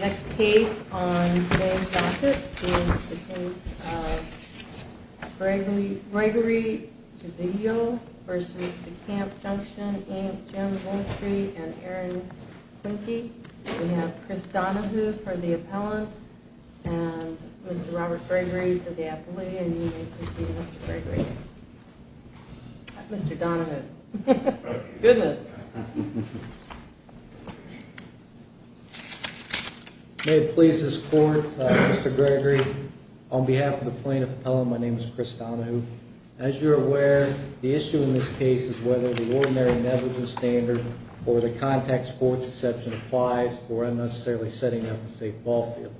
Next case on today's docket is the case of Gregory Gvillo v. DeCamp Junction, Inc., Jim Vultry, and Aaron Klinke. We have Chris Donahue for the appellant, and Mr. Robert Gregory for the appellee, and you may proceed, Mr. Gregory. Mr. Donahue. Goodness. May it please this Court, Mr. Gregory, on behalf of the plaintiff appellant, my name is Chris Donahue. As you're aware, the issue in this case is whether the ordinary negligence standard or the contact sports exception applies for unnecessarily setting up a safe ball field.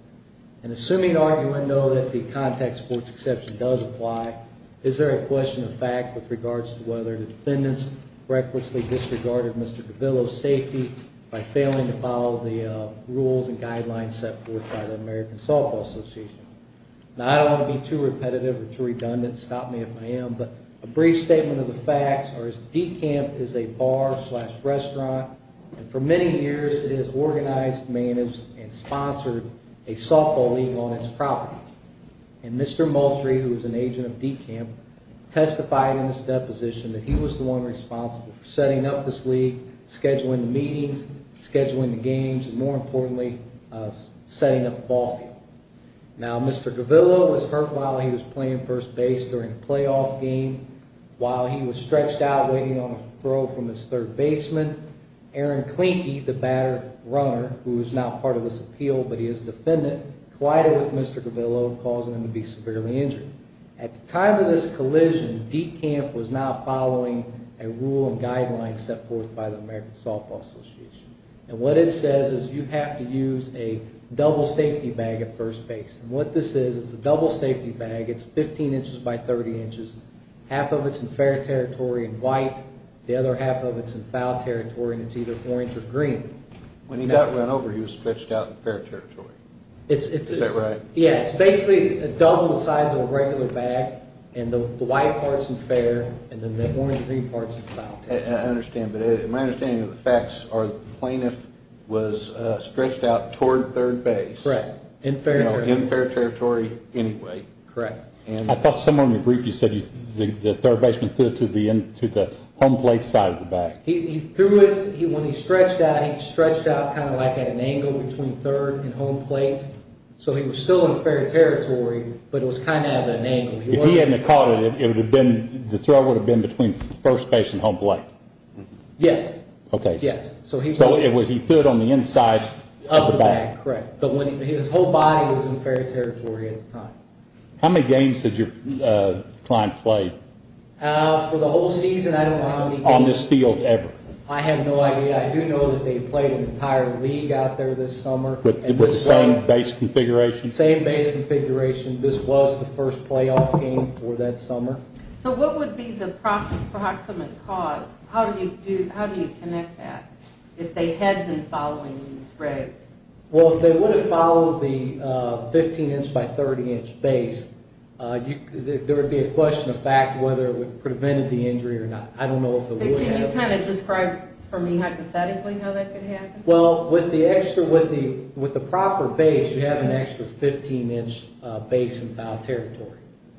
And assuming, argument, though, that the contact sports exception does apply, is there a question of fact with regards to whether the defendants recklessly disregarded Mr. Gvillo's safety by failing to follow the rules and guidelines set forth by the American Softball Association? Now, I don't want to be too repetitive or too redundant, stop me if I am, but a brief statement of the facts are that DeCamp is a bar slash restaurant, and for many years it has organized, managed, and sponsored a softball league on its property. And Mr. Vultry, who is an agent of DeCamp, testified in this deposition that he was the one responsible for setting up this league, scheduling the meetings, scheduling the games, and more importantly, setting up the ball field. Now, Mr. Gvillo was hurt while he was playing first base during a playoff game, while he was stretched out waiting on a throw from his third baseman. Aaron Klinke, the batter runner, who is now part of this appeal, but he is a defendant, collided with Mr. Gvillo, causing him to be severely injured. At the time of this collision, DeCamp was not following a rule and guideline set forth by the American Softball Association. And what it says is you have to use a double safety bag at first base. And what this is, it's a double safety bag, it's 15 inches by 30 inches, half of it's in fair territory and white, the other half of it's in foul territory, and it's either orange or green. When he got run over, he was stretched out in fair territory. Is that right? Yeah, it's basically a double the size of a regular bag, and the white part's in fair, and the orange and green part's in foul territory. I understand, but my understanding of the facts are the plaintiff was stretched out toward third base. Correct, in fair territory. In fair territory anyway. Correct. I thought someone briefed you, said the third baseman threw it to the home plate side of the bag. He threw it, when he stretched out, he stretched out kind of like at an angle between third and home plate. So he was still in fair territory, but it was kind of at an angle. If he hadn't have caught it, the throw would have been between first base and home plate. Yes. Okay. So he threw it on the inside of the bag. Correct. But his whole body was in fair territory at the time. How many games did your client play? For the whole season, I don't know how many games. On this field ever? I have no idea. I do know that they played an entire league out there this summer. With the same base configuration? Same base configuration. This was the first playoff game for that summer. So what would be the approximate cause? How do you connect that if they had been following these regs? Well, if they would have followed the 15-inch by 30-inch base, there would be a question of fact whether it would have prevented the injury or not. I don't know if it would have. Can you kind of describe for me hypothetically how that could happen? Well, with the proper base, you have an extra 15-inch base in foul territory.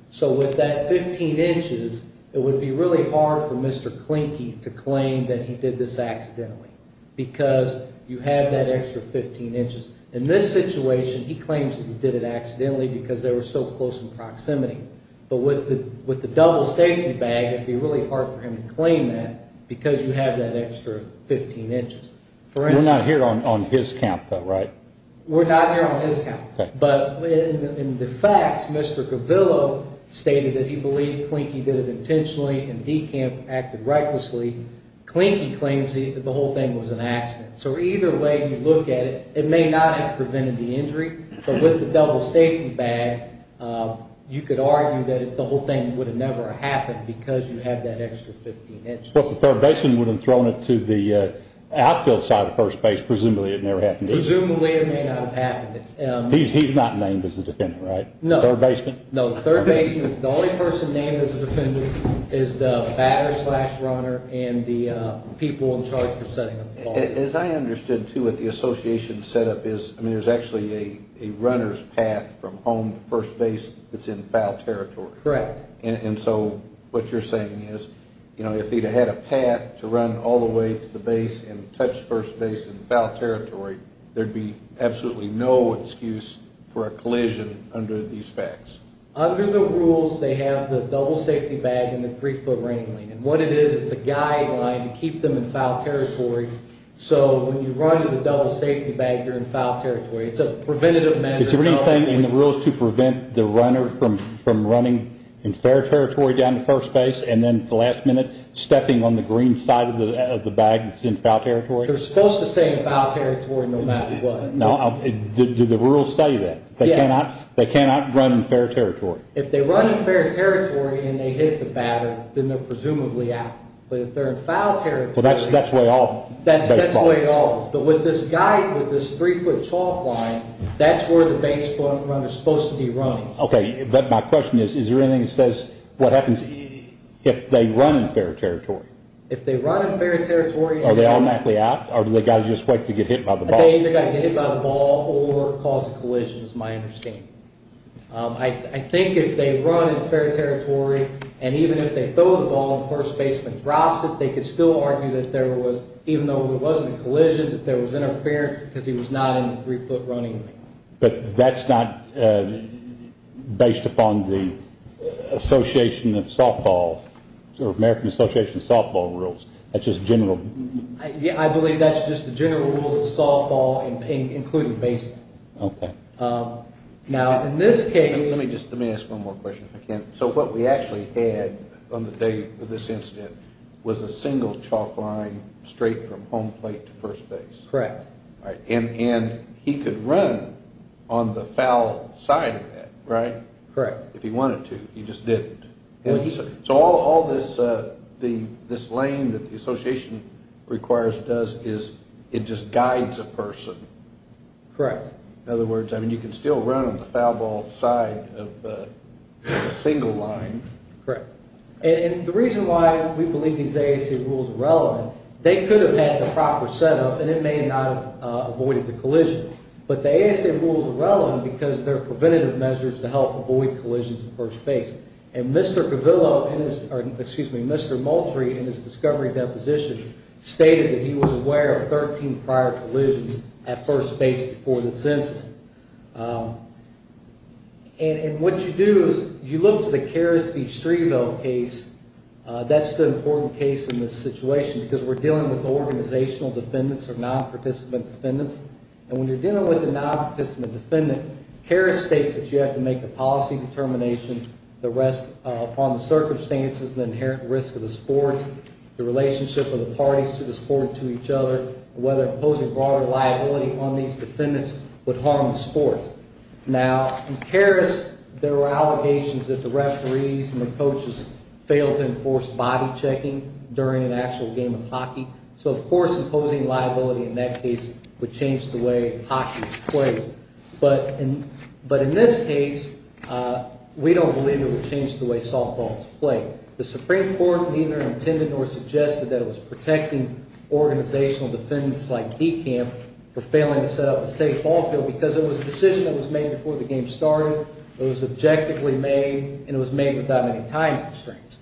So with that 15 inches, it would be really hard for Mr. Klinke to claim that he did this accidentally because you have that extra 15 inches. In this situation, he claims that he did it accidentally because they were so close in proximity. But with the double safety bag, it would be really hard for him to claim that because you have that extra 15 inches. We're not here on his count, though, right? We're not here on his count. But in the facts, Mr. Gavillo stated that he believed Klinke did it intentionally and DeKamp acted recklessly. Klinke claims that the whole thing was an accident. So either way you look at it, it may not have prevented the injury, but with the double safety bag, you could argue that the whole thing would have never happened because you have that extra 15 inches. Plus the third baseman would have thrown it to the outfield side of first base. Presumably it never happened. Presumably it may not have happened. He's not named as the defendant, right? No. The third baseman? No, the third baseman. The only person named as the defendant is the batter-slash-runner and the people in charge for setting up the ball. As I understood, too, what the association set up is there's actually a runner's path from home to first base that's in foul territory. Correct. And so what you're saying is if he'd had a path to run all the way to the base and touch first base in foul territory, there'd be absolutely no excuse for a collision under these facts. Under the rules, they have the double safety bag and the three-foot ring. And what it is, it's a guideline to keep them in foul territory. So when you run in the double safety bag, you're in foul territory. It's a preventative measure. Is there anything in the rules to prevent the runner from running in fair territory down to first base and then at the last minute stepping on the green side of the bag that's in foul territory? They're supposed to stay in foul territory no matter what. Do the rules say that? Yes. They cannot run in fair territory? If they run in fair territory and they hit the batter, then they're presumably out. But if they're in foul territory. Well, that's way off. That's way off. But with this guide, with this three-foot chalk line, that's where the base runner is supposed to be running. Okay. But my question is, is there anything that says what happens if they run in fair territory? If they run in fair territory. Are they automatically out? Or do they just have to wait to get hit by the ball? They either have to get hit by the ball or cause a collision is my understanding. I think if they run in fair territory and even if they throw the ball and the first baseman drops it, they could still argue that there was, even though there wasn't a collision, that there was interference because he was not in the three-foot running lane. But that's not based upon the association of softball, American Association of Softball Rules. That's just general. I believe that's just the general rules of softball, including baseman. Okay. Now, in this case. Let me ask one more question if I can. So what we actually had on the day of this incident was a single chalk line straight from home plate to first base. Correct. And he could run on the foul side of that, right? Correct. If he wanted to. He just didn't. So all this lane that the association requires, does, is it just guides a person. Correct. In other words, I mean, you can still run on the foul ball side of a single line. Correct. And the reason why we believe these ASA rules are relevant, they could have had the proper setup and it may not have avoided the collision. But the ASA rules are relevant because they're preventative measures to help avoid collisions at first base. And Mr. Cavillo, or excuse me, Mr. Moultrie, in his discovery deposition, stated that he was aware of 13 prior collisions at first base before this incident. And what you do is you look to the Karras v. Streeville case. That's the important case in this situation because we're dealing with organizational defendants or non-participant defendants. And when you're dealing with a non-participant defendant, Karras states that you have to make a policy determination upon the circumstances, the inherent risk of the sport, the relationship of the parties to the sport and to each other, whether imposing broader liability on these defendants would harm the sport. Now, in Karras, there were allegations that the referees and the coaches failed to enforce body checking during an actual game of hockey. So, of course, imposing liability in that case would change the way hockey is played. But in this case, we don't believe it would change the way softball is played. The Supreme Court neither intended nor suggested that it was protecting organizational defendants like DeKamp for failing to set up a safe ball field because it was a decision that was made before the game started, it was objectively made, and it was made without any time constraints.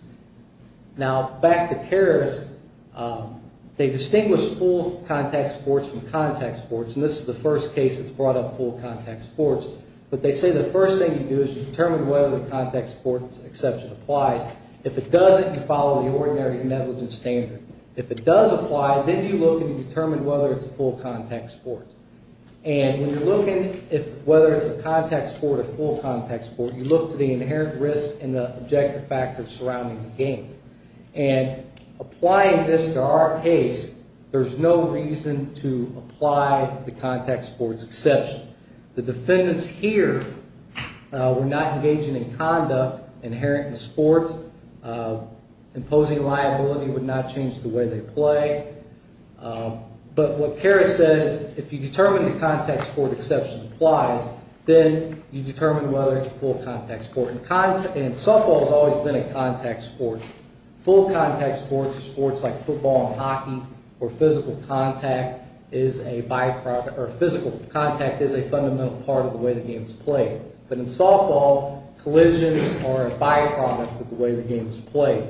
Now, back to Karras, they distinguished full contact sports from contact sports, and this is the first case that's brought up full contact sports. But they say the first thing you do is you determine whether the contact sports exception applies. If it doesn't, you follow the ordinary negligence standard. If it does apply, then you look and you determine whether it's a full contact sport. And when you're looking whether it's a contact sport or a full contact sport, you look to the inherent risk and the objective factors surrounding the game. And applying this to our case, there's no reason to apply the contact sports exception. The defendants here were not engaging in conduct inherent in sports. Imposing liability would not change the way they play. But what Karras says, if you determine the contact sport exception applies, then you determine whether it's a full contact sport. And softball has always been a contact sport. Full contact sports are sports like football and hockey, where physical contact is a fundamental part of the way the game is played. But in softball, collisions are a byproduct of the way the game is played.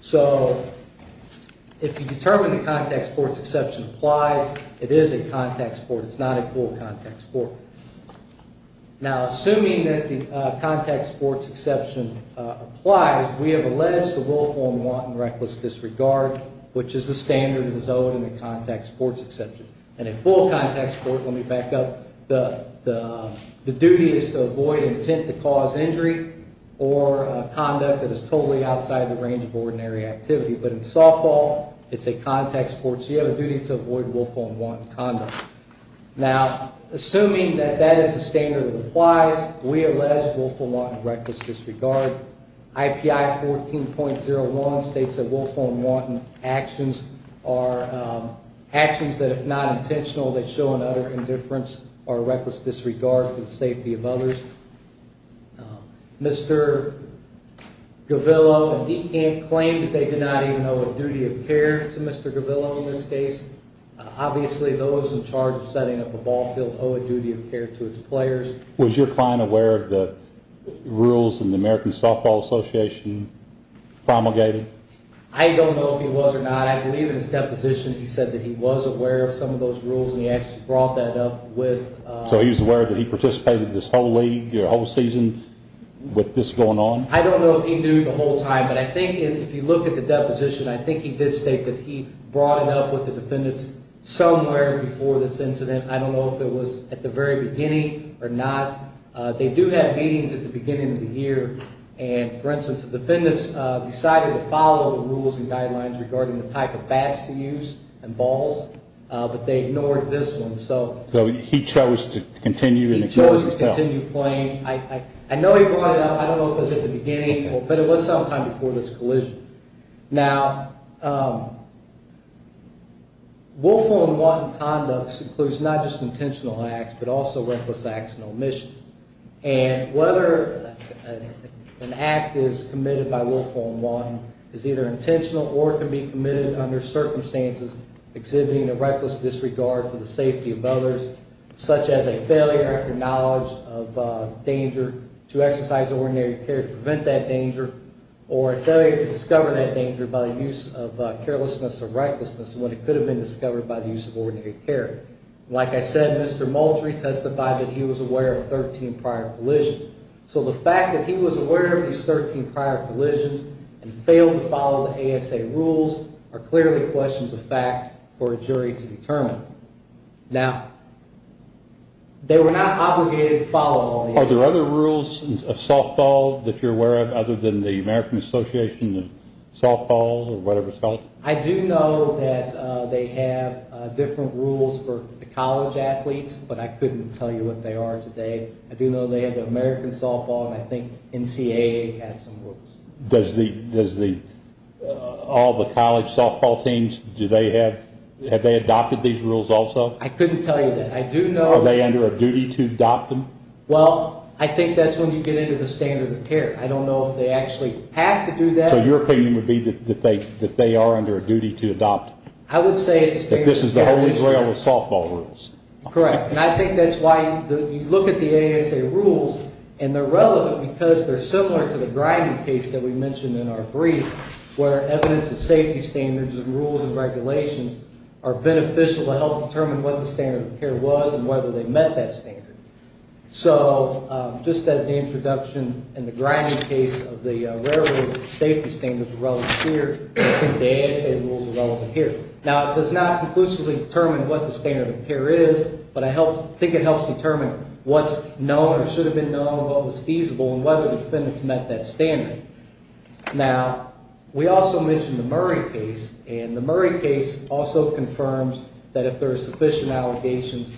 So if you determine the contact sports exception applies, it is a contact sport. It's not a full contact sport. Now, assuming that the contact sports exception applies, we have alleged the willful and wanton reckless disregard, which is the standard of the zone in the contact sports exception. And a full contact sport, let me back up, the duty is to avoid intent to cause injury or conduct that is totally outside the range of ordinary activity. But in softball, it's a contact sport, so you have a duty to avoid willful and wanton conduct. Now, assuming that that is the standard that applies, we allege willful and wanton reckless disregard. IPI 14.01 states that willful and wanton actions are actions that, if not intentional, they show an utter indifference or reckless disregard for the safety of others. Mr. Gavillo and DeCant claim that they did not even know what duty appeared to Mr. Gavillo in this case. Obviously, those in charge of setting up a ball field owe a duty of care to its players. Was your client aware of the rules in the American Softball Association promulgated? I don't know if he was or not. I believe in his deposition he said that he was aware of some of those rules, and he actually brought that up with… So he was aware that he participated in this whole league, your whole season, with this going on? I don't know if he knew the whole time, but I think if you look at the deposition, I think he did state that he brought it up with the defendants somewhere before this incident. I don't know if it was at the very beginning or not. They do have meetings at the beginning of the year, and, for instance, the defendants decided to follow the rules and guidelines regarding the type of bats to use and balls, but they ignored this one. So he chose to continue and ignore it himself? He chose to continue playing. I know he brought it up. I don't know if it was at the beginning, but it was sometime before this collision. Now, willful and wanton conducts includes not just intentional acts, but also reckless acts and omissions. And whether an act is committed by willful and wanton is either intentional or can be committed under circumstances exhibiting a reckless disregard for the safety of others, such as a failure of your knowledge of danger to exercise ordinary care to prevent that danger, or a failure to discover that danger by the use of carelessness or recklessness when it could have been discovered by the use of ordinary care. Like I said, Mr. Moultrie testified that he was aware of 13 prior collisions. So the fact that he was aware of these 13 prior collisions and failed to follow the ASA rules are clearly questions of fact for a jury to determine. Now, they were not obligated to follow all the ASA rules. Are there other rules of softball that you're aware of other than the American Association of Softball or whatever it's called? I do know that they have different rules for the college athletes, but I couldn't tell you what they are today. I do know they have the American Softball, and I think NCAA has some rules. Does all the college softball teams, do they have, have they adopted these rules also? I couldn't tell you that. I do know that. Are they under a duty to adopt them? Well, I think that's when you get into the standard of care. I don't know if they actually have to do that. So your opinion would be that they are under a duty to adopt them? I would say it's a standard of care issue. That this is the Holy Grail of softball rules. Correct, and I think that's why you look at the ASA rules, and they're relevant because they're similar to the grinding case that we mentioned in our brief, where evidence of safety standards and rules and regulations are beneficial to help determine what the standard of care was and whether they met that standard. So, just as the introduction and the grinding case of the railroad safety standards are relevant here, the ASA rules are relevant here. Now, it does not conclusively determine what the standard of care is, but I think it helps determine what's known or should have been known, what was feasible, and whether the defendants met that standard. Now, we also mentioned the Murray case, and the Murray case also confirms that if there are sufficient allegations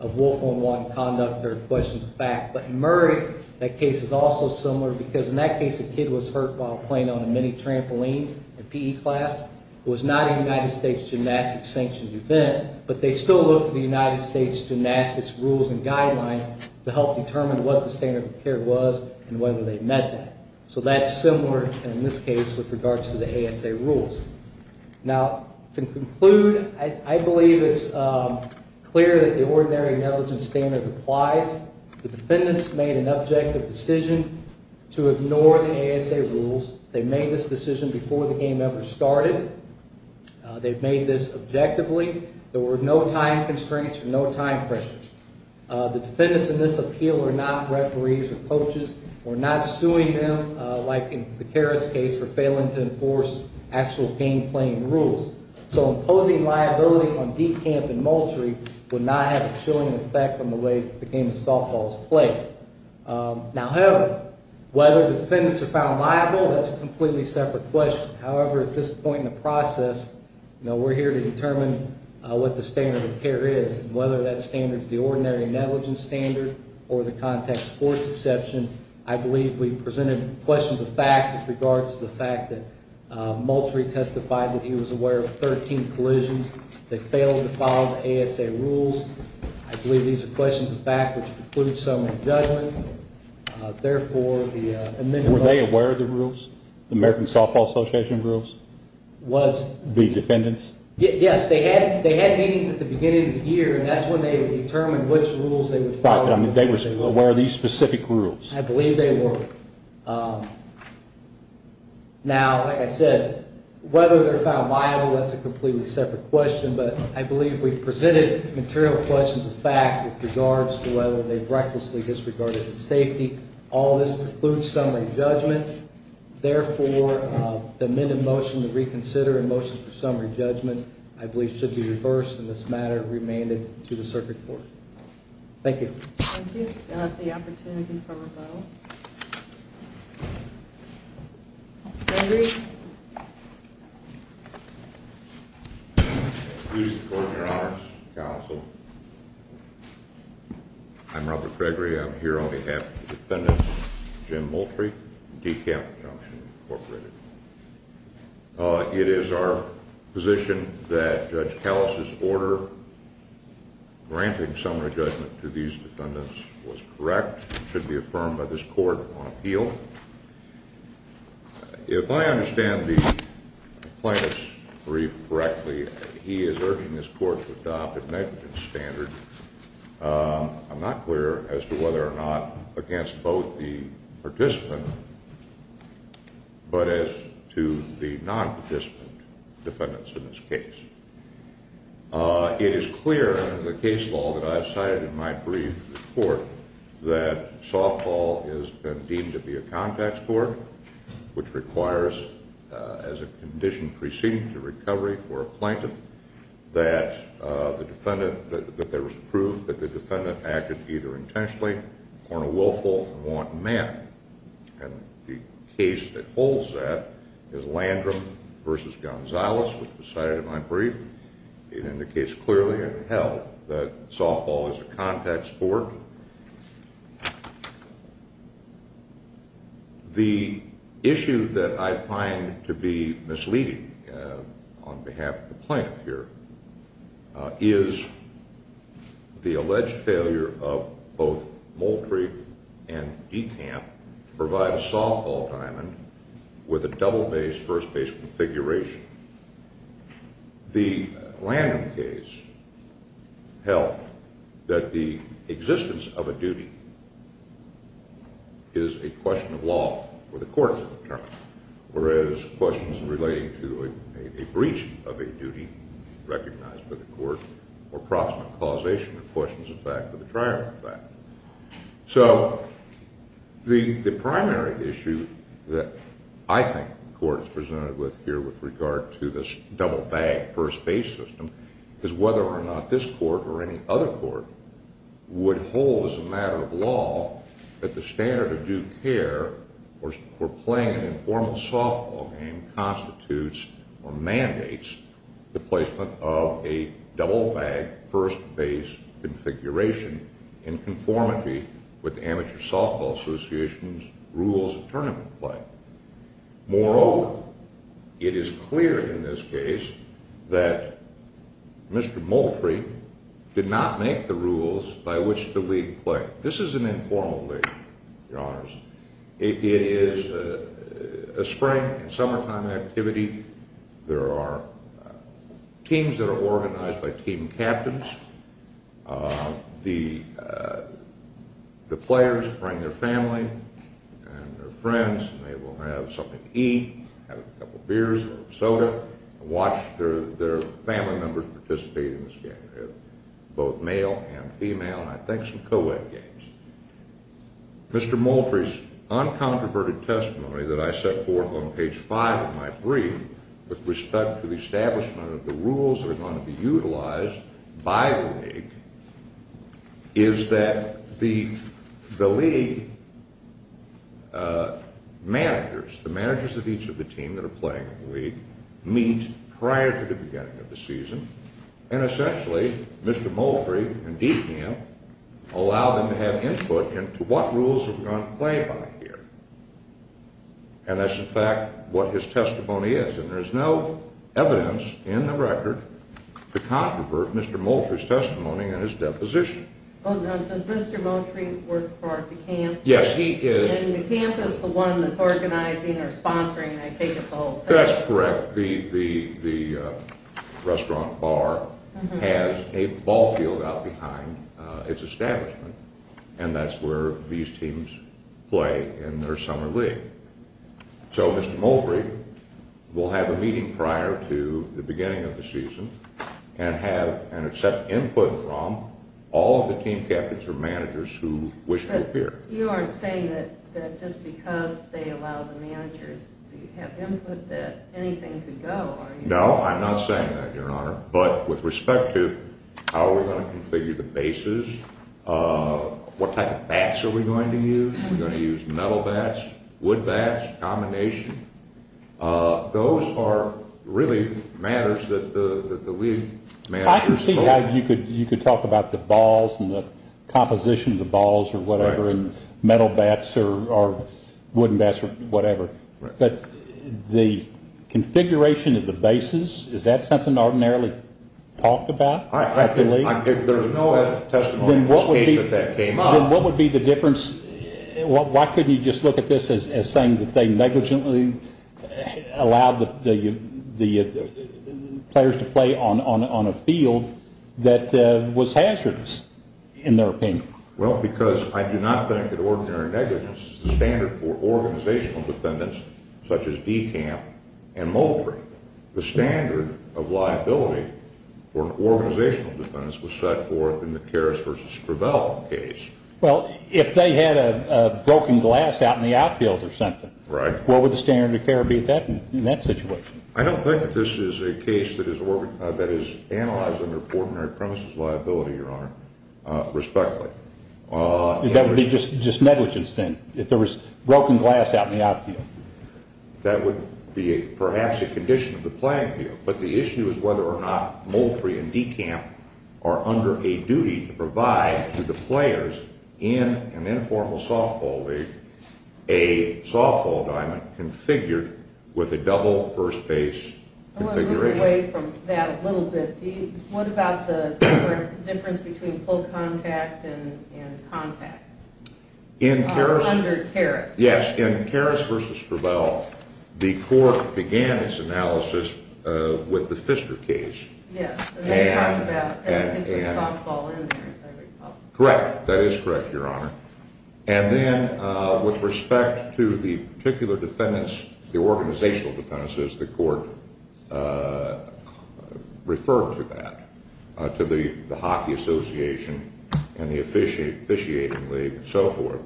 of wolf on one conduct or questions of fact. But in Murray, that case is also similar because in that case, a kid was hurt while playing on a mini trampoline in PE class. It was not a United States gymnastics sanctioned event, but they still looked at the United States gymnastics rules and guidelines to help determine what the standard of care was and whether they met that. So that's similar in this case with regards to the ASA rules. Now, to conclude, I believe it's clear that the ordinary negligence standard applies. The defendants made an objective decision to ignore the ASA rules. They made this decision before the game ever started. They've made this objectively. There were no time constraints or no time pressures. The defendants in this appeal are not referees or coaches. We're not suing them, like in the Karras case, for failing to enforce actual game-playing rules. So imposing liability on deep camp in Moultrie would not have a chilling effect on the way the game of softball is played. Now, however, whether defendants are found liable, that's a completely separate question. However, at this point in the process, we're here to determine what the standard of care is and whether that standard is the ordinary negligence standard or the contact sports exception. I believe we've presented questions of fact with regards to the fact that Moultrie testified that he was aware of 13 collisions. They failed to follow the ASA rules. I believe these are questions of fact, which includes some in the judgment. Were they aware of the rules, the American Softball Association rules? The defendants? Yes. They had meetings at the beginning of the year, and that's when they determined which rules they would follow. They were aware of these specific rules. I believe they were. Now, like I said, whether they're found liable, that's a completely separate question. But I believe we've presented material questions of fact with regards to whether they've recklessly disregarded the safety. All of this includes summary judgment. Therefore, the amendment motion to reconsider and motion for summary judgment, I believe, should be reversed. And this matter remained to the circuit court. Thank you. Thank you. That's the opportunity for rebuttal. Mr. Gregory. Excuse the court, Your Honor. Counsel. I'm Robert Gregory. I'm here on behalf of the defendants, Jim Moultrie, DeKalb Junction, Incorporated. It is our position that Judge Kallis' order granting summary judgment to these defendants was correct. It should be affirmed by this court on appeal. If I understand the plaintiff's brief correctly, he is urging this court to adopt a negligence standard. I'm not clear as to whether or not against both the participant but as to the non-participant defendants in this case. It is clear in the case law that I've cited in my brief report that softball is deemed to be a contact sport, which requires, as a condition preceding the recovery for a plaintiff, that there is proof that the defendant acted either intentionally or in a willful and wanton manner. And the case that holds that is Landrum v. Gonzalez, which was cited in my brief. It indicates clearly and held that softball is a contact sport. The issue that I find to be misleading on behalf of the plaintiff here is the alleged failure of both Moultrie and DeKalb to provide a softball diamond with a double-base, first-base configuration. The Landrum case held that the existence of a duty is a question of law for the court to determine, whereas questions relating to a breach of a duty recognized by the court or proximate causation are questions of fact of the triumvirate. So the primary issue that I think the court is presented with here with regard to this double-bag, first-base system is whether or not this court or any other court would hold as a matter of law that the standard of due care for playing an informal softball game constitutes or mandates the placement of a double-bag, first-base configuration in conformity with amateur softball association's rules of tournament play. Moreover, it is clear in this case that Mr. Moultrie did not make the rules by which the league played. This is an informal league, Your Honors. It is a spring and summertime activity. There are teams that are organized by team captains. The players bring their family and their friends, and they will have something to eat, have a couple beers or a soda, and watch their family members participate in this game. They're both male and female, and I think some co-ed games. Mr. Moultrie's uncontroverted testimony that I set forth on page 5 of my brief with respect to the establishment of the rules that are going to be utilized by the league is that the league managers, the managers of each of the teams that are playing in the league, meet prior to the beginning of the season, and essentially Mr. Moultrie and DPM allow them to have input into what rules are going to play by here. And that's, in fact, what his testimony is. And there's no evidence in the record to controvert Mr. Moultrie's testimony and his deposition. Does Mr. Moultrie work for DeCamp? Yes, he is. And DeCamp is the one that's organizing or sponsoring, I take it, the whole thing? That's correct. The restaurant bar has a ball field out behind its establishment, and that's where these teams play in their summer league. So Mr. Moultrie will have a meeting prior to the beginning of the season and have and accept input from all of the team captains or managers who wish to appear. But you aren't saying that just because they allow the managers to have input that anything could go, are you? No, I'm not saying that, Your Honor. But with respect to how we're going to configure the bases, what type of bats are we going to use? Are we going to use metal bats, wood bats, combination? Those are really matters that the league manages. I can see how you could talk about the balls and the composition of the balls or whatever and metal bats or wooden bats or whatever. But the configuration of the bases, is that something ordinarily talked about at the league? There's no testimony in this case that that came up. Then what would be the difference? Why couldn't you just look at this as saying that they negligently allowed the players to play on a field that was hazardous, in their opinion? Well, because I do not think that ordinary negligence is the standard for organizational defendants such as Dekamp and Moultrie. The standard of liability for organizational defendants was set forth in the Karras versus Travell case. Well, if they had a broken glass out in the outfield or something, what would the standard of care be in that situation? I don't think that this is a case that is analyzed under ordinary premises liability, Your Honor, respectfully. That would be just negligence then, if there was broken glass out in the outfield? That would be perhaps a condition of the playing field. But the issue is whether or not Moultrie and Dekamp are under a duty to provide to the players in an informal softball league a softball diamond configured with a double first base configuration. I want to move away from that a little bit. What about the difference between full contact and contact under Karras? Yes, in Karras versus Travell, the court began its analysis with the Pfister case. Yes, and they talked about putting softball in there, as I recall. Correct. That is correct, Your Honor. And then with respect to the particular defendants, the organizational defendants, as the court referred to that, to the Hockey Association and the Officiating League and so forth,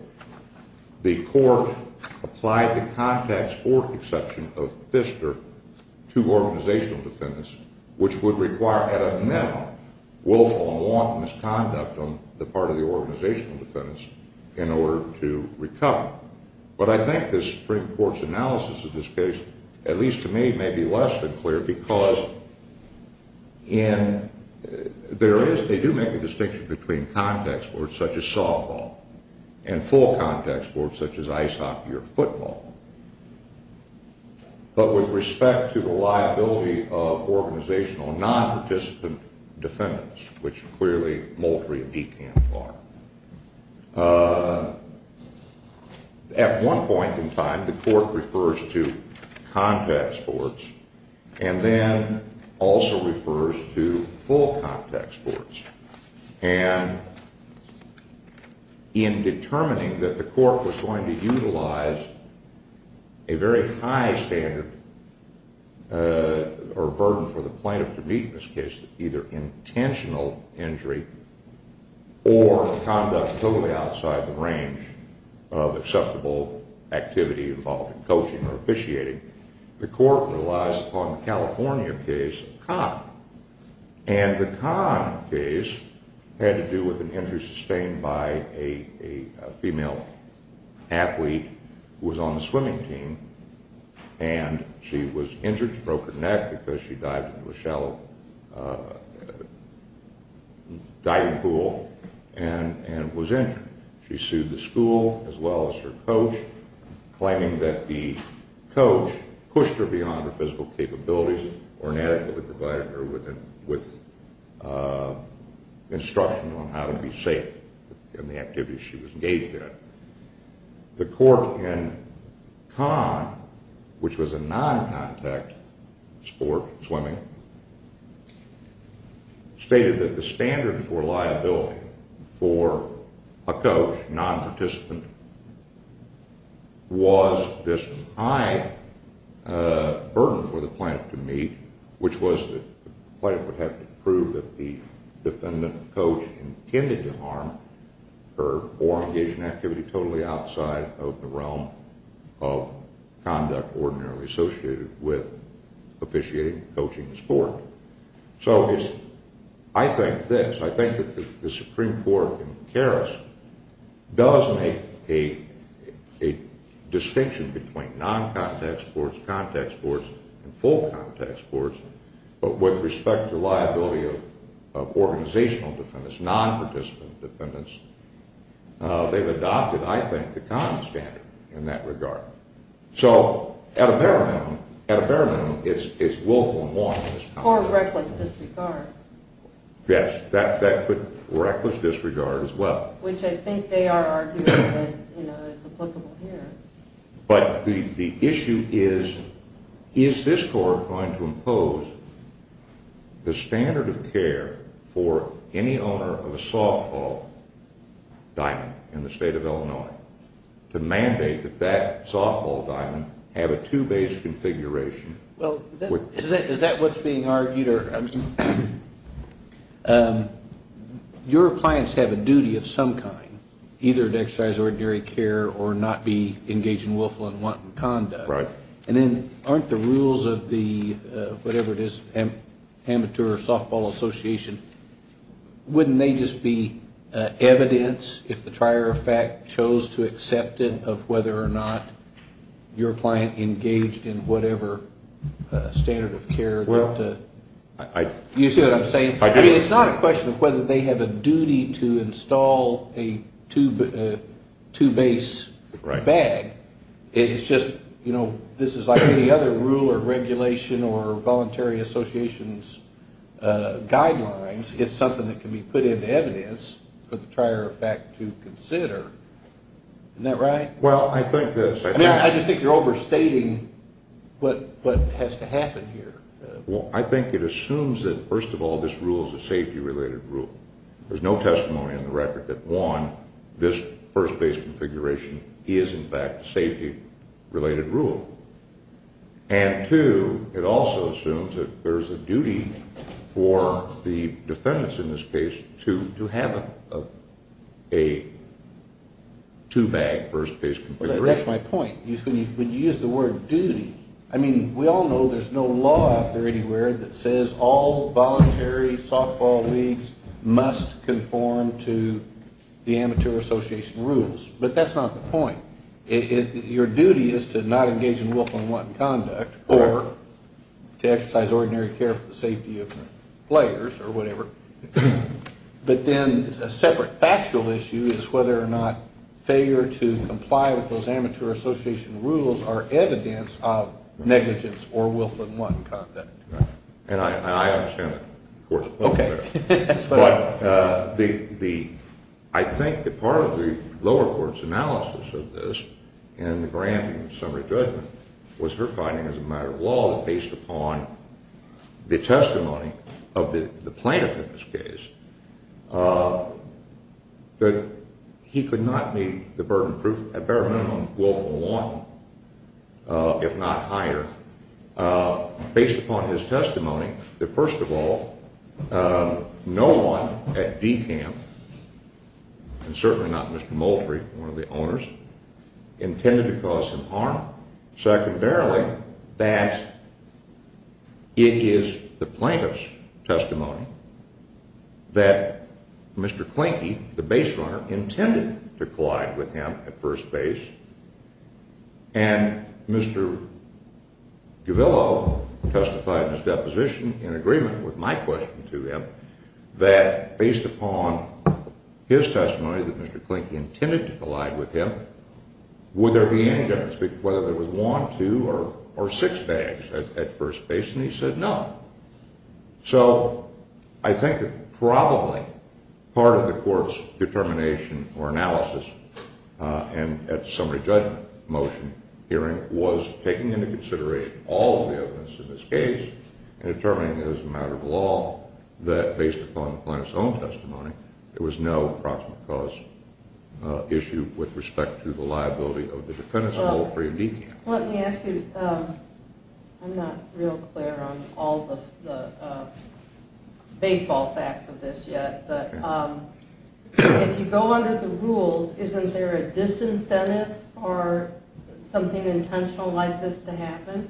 the court applied the contact sport exception of Pfister to organizational defendants, which would require an amendment, willful and wanton misconduct on the part of the organizational defendants in order to recover. But I think the Supreme Court's analysis of this case, at least to me, may be less than clear because they do make a distinction between contact sports, such as softball, and full contact sports, such as ice hockey or football. But with respect to the liability of organizational non-participant defendants, which clearly Moultrie and DeKalb are, at one point in time the court refers to contact sports and then also refers to full contact sports. And in determining that the court was going to utilize a very high standard or burden for the plaintiff to meet in this case, either intentional injury or conduct totally outside the range of acceptable activity involved in coaching or officiating, the court relies upon the California case of Kahn. And the Kahn case had to do with an injury sustained by a female athlete who was on the swimming team. And she was injured, she broke her neck because she dived into a shallow diving pool and was injured. And she sued the school as well as her coach, claiming that the coach pushed her beyond her physical capabilities or inadequately provided her with instruction on how to be safe in the activities she was engaged in. The court in Kahn, which was a non-contact sport, swimming, stated that the standard for liability for a coach, non-participant, was this high burden for the plaintiff to meet, which was that the plaintiff would have to prove that the defendant coach intended to harm her or engage in activity totally outside of the realm of conduct ordinarily associated with officiating, coaching the sport. So I think this, I think that the Supreme Court in Karras does make a distinction between non-contact sports, organizational defendants, non-participant defendants. They've adopted, I think, the Kahn standard in that regard. So at a bare minimum, at a bare minimum, it's willful and lawful. Or reckless disregard. Yes, that could be reckless disregard as well. Which I think they are arguing is applicable here. But the issue is, is this court going to impose the standard of care for any owner of a softball diamond in the state of Illinois to mandate that that softball diamond have a two-base configuration? Well, is that what's being argued? Peter, your clients have a duty of some kind, either to exercise ordinary care or not be engaged in willful and wanton conduct. Right. And then aren't the rules of the, whatever it is, amateur softball association, wouldn't they just be evidence if the trier of fact chose to accept it of whether or not your client engaged in whatever standard of care? You see what I'm saying? I do. I mean, it's not a question of whether they have a duty to install a two-base bag. It's just, you know, this is like any other rule or regulation or voluntary association's guidelines. It's something that can be put into evidence for the trier of fact to consider. Isn't that right? Well, I think this. I mean, I just think you're overstating what has to happen here. Well, I think it assumes that, first of all, this rule is a safety-related rule. There's no testimony on the record that, one, this first-base configuration is, in fact, a safety-related rule. And, two, it also assumes that there's a duty for the defendants in this case to have a two-bag first-base configuration. That's my point. When you use the word duty, I mean, we all know there's no law out there anywhere that says all voluntary softball leagues must conform to the amateur association rules. But that's not the point. Your duty is to not engage in willful and wanton conduct or to exercise ordinary care for the safety of the players or whatever. But then a separate factual issue is whether or not failure to comply with those amateur association rules are evidence of negligence or willful and wanton conduct. And I understand that, of course. Okay. But I think that part of the lower court's analysis of this in the granting of summary judgment was her finding as a matter of law that, based upon the testimony of the plaintiff in this case, that he could not meet the burden of proof, at bare minimum, willful and wanton, if not higher, based upon his testimony that, first of all, no one at D camp, and certainly not Mr. Moultrie, one of the owners, intended to cause him harm. Secondarily, that it is the plaintiff's testimony that Mr. Klinke, the base runner, intended to collide with him at first base. And Mr. Gavillo testified in his deposition in agreement with my question to him that, based upon his testimony that Mr. Klinke intended to collide with him, would there be any difference, whether there was one, two, or six bags at first base? And he said no. So I think that probably part of the court's determination or analysis at the summary judgment motion hearing was taking into consideration all of the evidence in this case and determining as a matter of law that, based upon the plaintiff's own testimony, there was no approximate cause issue with respect to the liability of the defendants in Moultrie and D camp. Let me ask you, I'm not real clear on all the baseball facts of this yet, but if you go under the rules, isn't there a disincentive or something intentional like this to happen?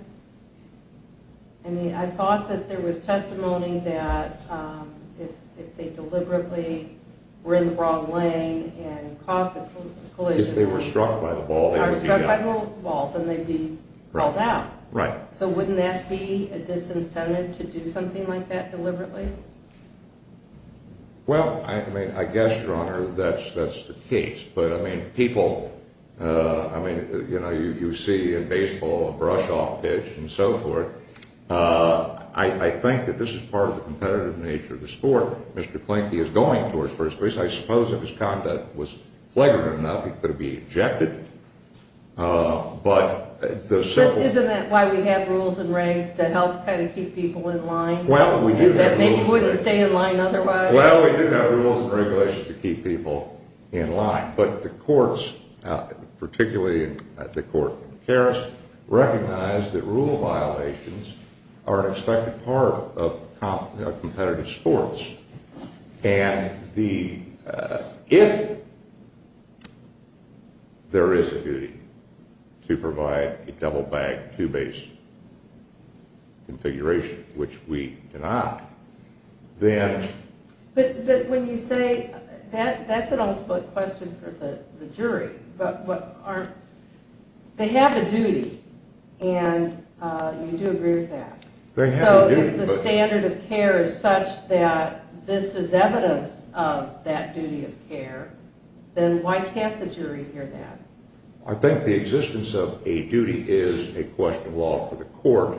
I mean, I thought that there was testimony that if they deliberately were in the wrong lane and caused a collision... If they were struck by the ball, they would be... If they were struck by the ball, then they'd be called out. Right. So wouldn't that be a disincentive to do something like that deliberately? Well, I mean, I guess, Your Honor, that's the case. But, I mean, people... I mean, you know, you see in baseball a brush-off pitch and so forth. I think that this is part of the competitive nature of the sport. Mr. Klenke is going towards first base. I suppose if his conduct was flagrant enough, he could have been ejected. But the simple... Isn't that why we have rules and regs to help kind of keep people in line? Well, we do have rules... That maybe wouldn't stay in line otherwise. Well, we do have rules and regulations to keep people in line. But the courts, particularly the court in Paris, recognize that rule violations are an expected part of competitive sports. And if there is a duty to provide a double-bag, two-base configuration, which we do not, then... But when you say... That's an ultimate question for the jury. But what aren't... They have a duty, and you do agree with that. They have a duty, but... If this is evidence of that duty of care, then why can't the jury hear that? I think the existence of a duty is a question of law for the court.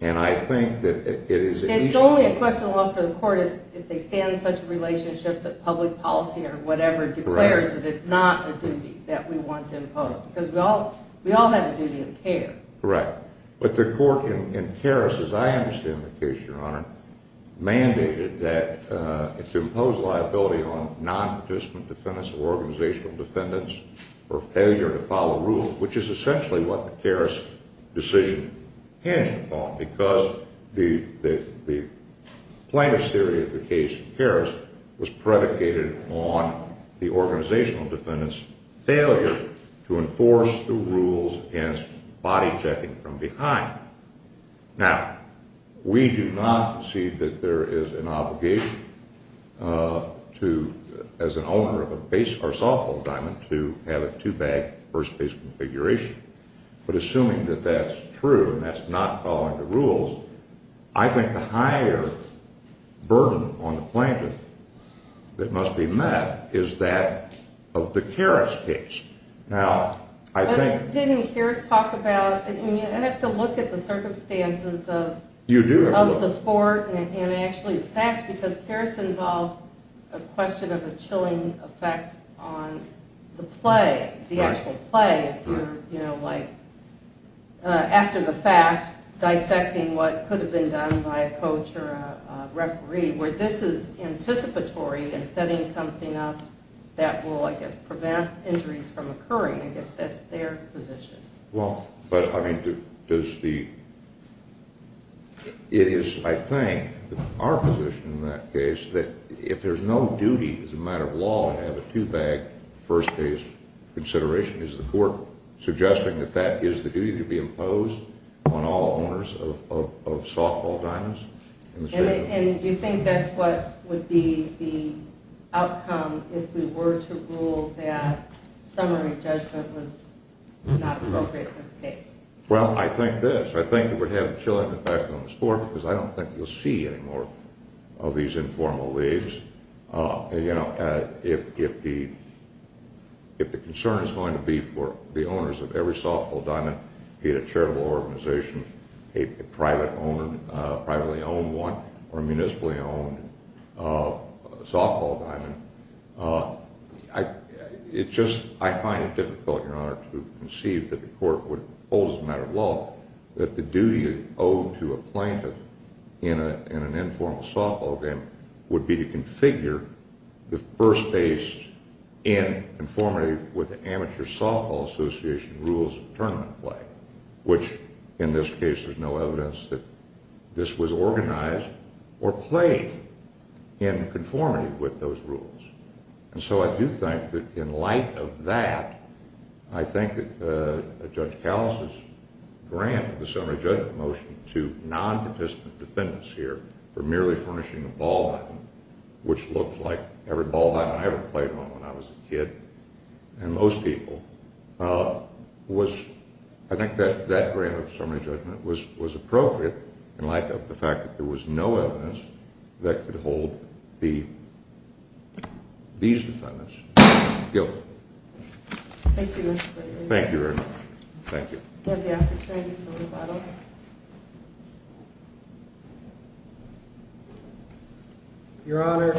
And I think that it is... It's only a question of law for the court if they stand in such a relationship that public policy or whatever declares that it's not a duty that we want to impose. Because we all have a duty of care. Correct. But the court in Paris, as I understand the case, Your Honor, mandated that... To impose liability on non-participant defendants or organizational defendants for failure to follow rules, which is essentially what the Paris decision hinged upon. Because the plaintiff's theory of the case in Paris was predicated on the organizational defendant's failure to enforce the rules against body-checking from behind. Now, we do not see that there is an obligation to... As an owner of a base or softball diamond, to have a two-bag, first-base configuration. But assuming that that's true and that's not following the rules, I think the higher burden on the plaintiff that must be met is that of the Karras case. Now, I think... Didn't Karras talk about... I mean, you have to look at the circumstances of... You do have to look... ...and actually the facts, because Karras involved a question of a chilling effect on the play, the actual play. You know, like, after the fact, dissecting what could have been done by a coach or a referee, where this is anticipatory and setting something up that will, I guess, prevent injuries from occurring. I guess that's their position. Well... But, I mean, does the... It is, I think, our position in that case that if there's no duty as a matter of law to have a two-bag, first-base consideration, is the court suggesting that that is the duty to be imposed on all owners of softball diamonds? And you think that's what would be the outcome if we were to rule that summary judgment was not appropriate in this case? ...or a municipally-owned softball diamond. It just... I find it difficult, Your Honor, to conceive that the court would hold as a matter of law that the duty owed to a plaintiff in an informal softball game would be to configure the first-base in conformity with the Amateur Softball Association rules of tournament play, which, in this case, there's no evidence that this was organized or played in conformity with those rules. And so I do think that in light of that, I think that Judge Kallis' grant of the summary judgment motion to non-participant defendants here for merely furnishing a ball diamond, which looked like every ball diamond I ever played on when I was a kid and most people, I think that grant of the summary judgment was appropriate in light of the fact that there was no evidence that could hold these defendants. Guild. Thank you, Mr. Gregory. Thank you very much. Thank you. Do you have the opportunity for rebuttal? Your Honor,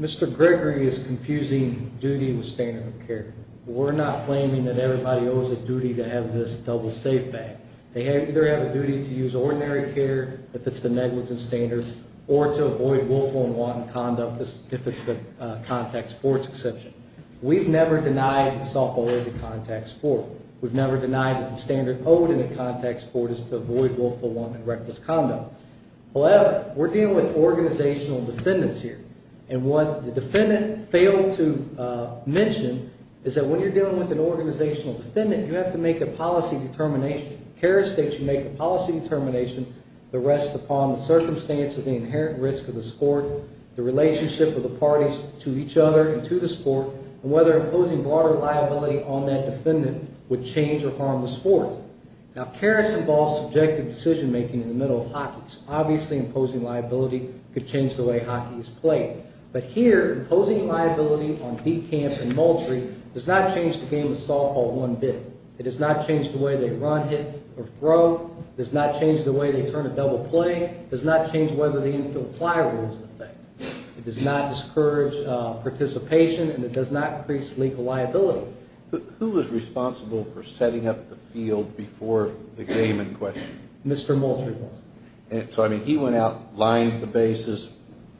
Mr. Gregory is confusing duty with standard of care. We're not claiming that everybody owes a duty to have this double safe bag. They either have a duty to use ordinary care if it's the negligence standards or to avoid willful and wanton conduct if it's the contact sports exception. We've never denied that softball is a contact sport. We've never denied that the standard owed in a contact sport is to avoid willful, wanton, and reckless conduct. However, we're dealing with organizational defendants here. And what the defendant failed to mention is that when you're dealing with an organizational defendant, you have to make a policy determination. Karras states you make a policy determination that rests upon the circumstance of the inherent risk of the sport, the relationship of the parties to each other and to the sport, and whether imposing broader liability on that defendant would change or harm the sport. Now, Karras involves subjective decision-making in the middle of hockeys. Obviously, imposing liability could change the way hockey is played. But here, imposing liability on deep camp and mulchery does not change the game of softball one bit. It does not change the way they run, hit, or throw. It does not change the way they turn a double play. It does not change whether the infield fly rule is in effect. It does not discourage participation, and it does not increase legal liability. Who is responsible for setting up the field before the game in question? Mr. Mulchery was. So, I mean, he went out, lined the bases,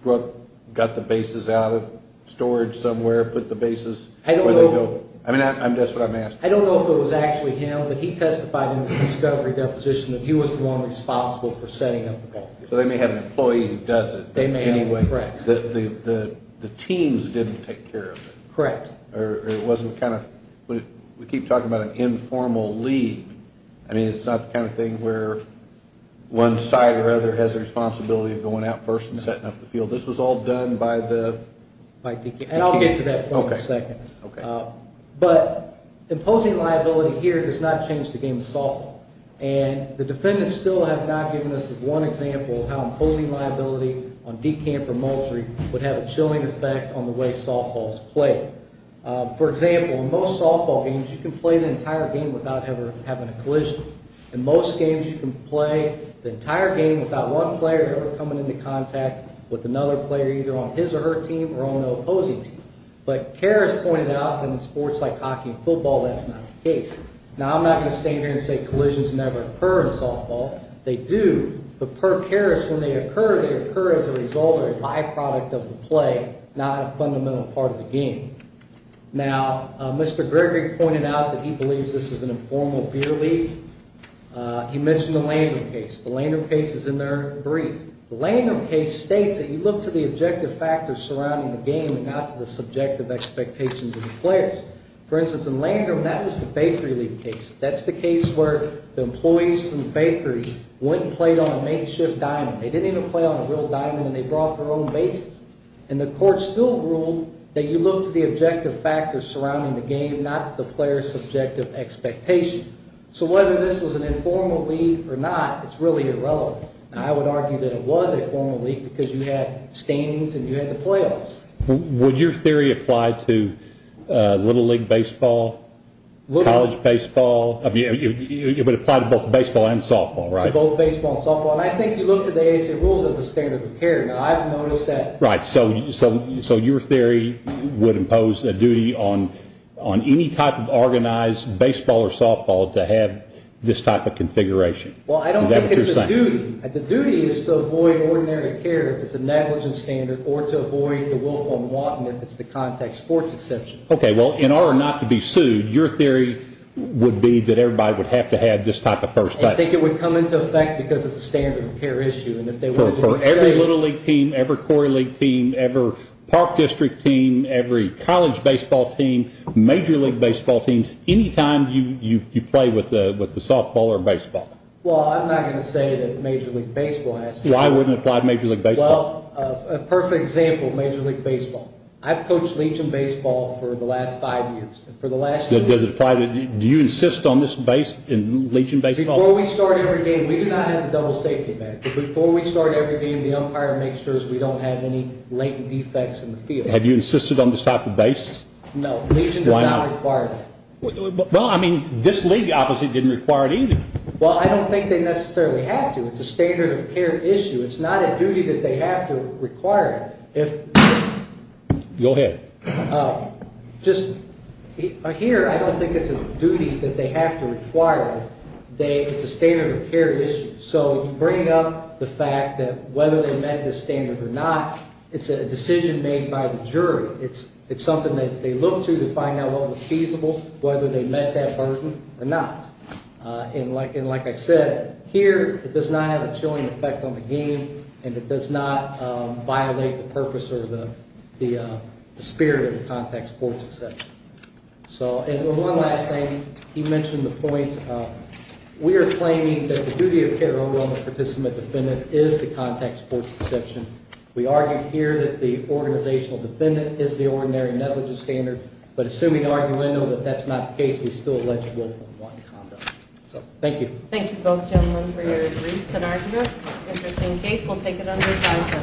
got the bases out of storage somewhere, put the bases where they go. I mean, that's what I'm asking. I don't know if it was actually him, but he testified in the discovery deposition that he was the one responsible for setting up the ball field. So they may have an employee who does it anyway. They may have, correct. The teams didn't take care of it. Correct. Or it wasn't kind of – we keep talking about an informal league. I mean, it's not the kind of thing where one side or other has the responsibility of going out first and setting up the field. This was all done by the – And I'll get to that point in a second. Okay. But imposing liability here does not change the game of softball. And the defendants still have not given us one example of how imposing liability on D camp or Mulchery would have a chilling effect on the way softball is played. For example, in most softball games, you can play the entire game without ever having a collision. In most games, you can play the entire game without one player ever coming into contact with another player, either on his or her team or on the opposing team. But Karras pointed out that in sports like hockey and football, that's not the case. Now, I'm not going to stand here and say collisions never occur in softball. They do. But per Karras, when they occur, they occur as a result or a byproduct of the play, not a fundamental part of the game. Now, Mr. Gregory pointed out that he believes this is an informal beer league. He mentioned the Landrum case. The Landrum case is in their brief. The Landrum case states that you look to the objective factors surrounding the game and not to the subjective expectations of the players. For instance, in Landrum, that was the Bakery League case. That's the case where the employees from the bakery went and played on a makeshift diamond. They didn't even play on a real diamond, and they brought their own bases. And the court still ruled that you look to the objective factors surrounding the game, not to the players' subjective expectations. So whether this was an informal league or not, it's really irrelevant. I would argue that it was a formal league because you had standings and you had the playoffs. Would your theory apply to Little League baseball, college baseball? I mean, it would apply to both baseball and softball, right? To both baseball and softball. And I think you look to the AAC rules as a standard of preparing, and I've noticed that. Right. So your theory would impose a duty on any type of organized baseball or softball to have this type of configuration. Is that what you're saying? Well, I don't think it's a duty. The duty is to avoid ordinary care if it's a negligence standard, or to avoid the Wolf on Wadden if it's the contact sports exception. Okay. Well, in order not to be sued, your theory would be that everybody would have to have this type of first base. I think it would come into effect because it's a standard of care issue. And if they were to go insane. For every Little League team, every Quarry League team, every Park District team, every college baseball team, any time you play with the softball or baseball. Well, I'm not going to say that Major League Baseball has to. Why wouldn't it apply to Major League Baseball? Well, a perfect example, Major League Baseball. I've coached Legion Baseball for the last five years. For the last five years. Does it apply to – do you insist on this base in Legion Baseball? Before we start every game, we do not have a double safety ban. Before we start every game, the umpire makes sure we don't have any latent defects in the field. Have you insisted on this type of base? No. Legion does not require that. Well, I mean, this league obviously didn't require it either. Well, I don't think they necessarily have to. It's a standard of care issue. It's not a duty that they have to require. Go ahead. Here, I don't think it's a duty that they have to require. It's a standard of care issue. So you bring up the fact that whether they met this standard or not, it's a decision made by the jury. It's something that they look to to find out what was feasible, whether they met that burden or not. And like I said, here, it does not have a chilling effect on the game, and it does not violate the purpose or the spirit of the contact sports exception. And one last thing. He mentioned the point. We are claiming that the duty of care over on the participant defendant is the contact sports exception. We argue here that the organizational defendant is the ordinary metallurgy standard, but assuming argument that that's not the case, we still allege it with one conduct. So thank you. Thank you, both gentlemen, for your briefs and arguments. Interesting case. We'll take it under five minutes.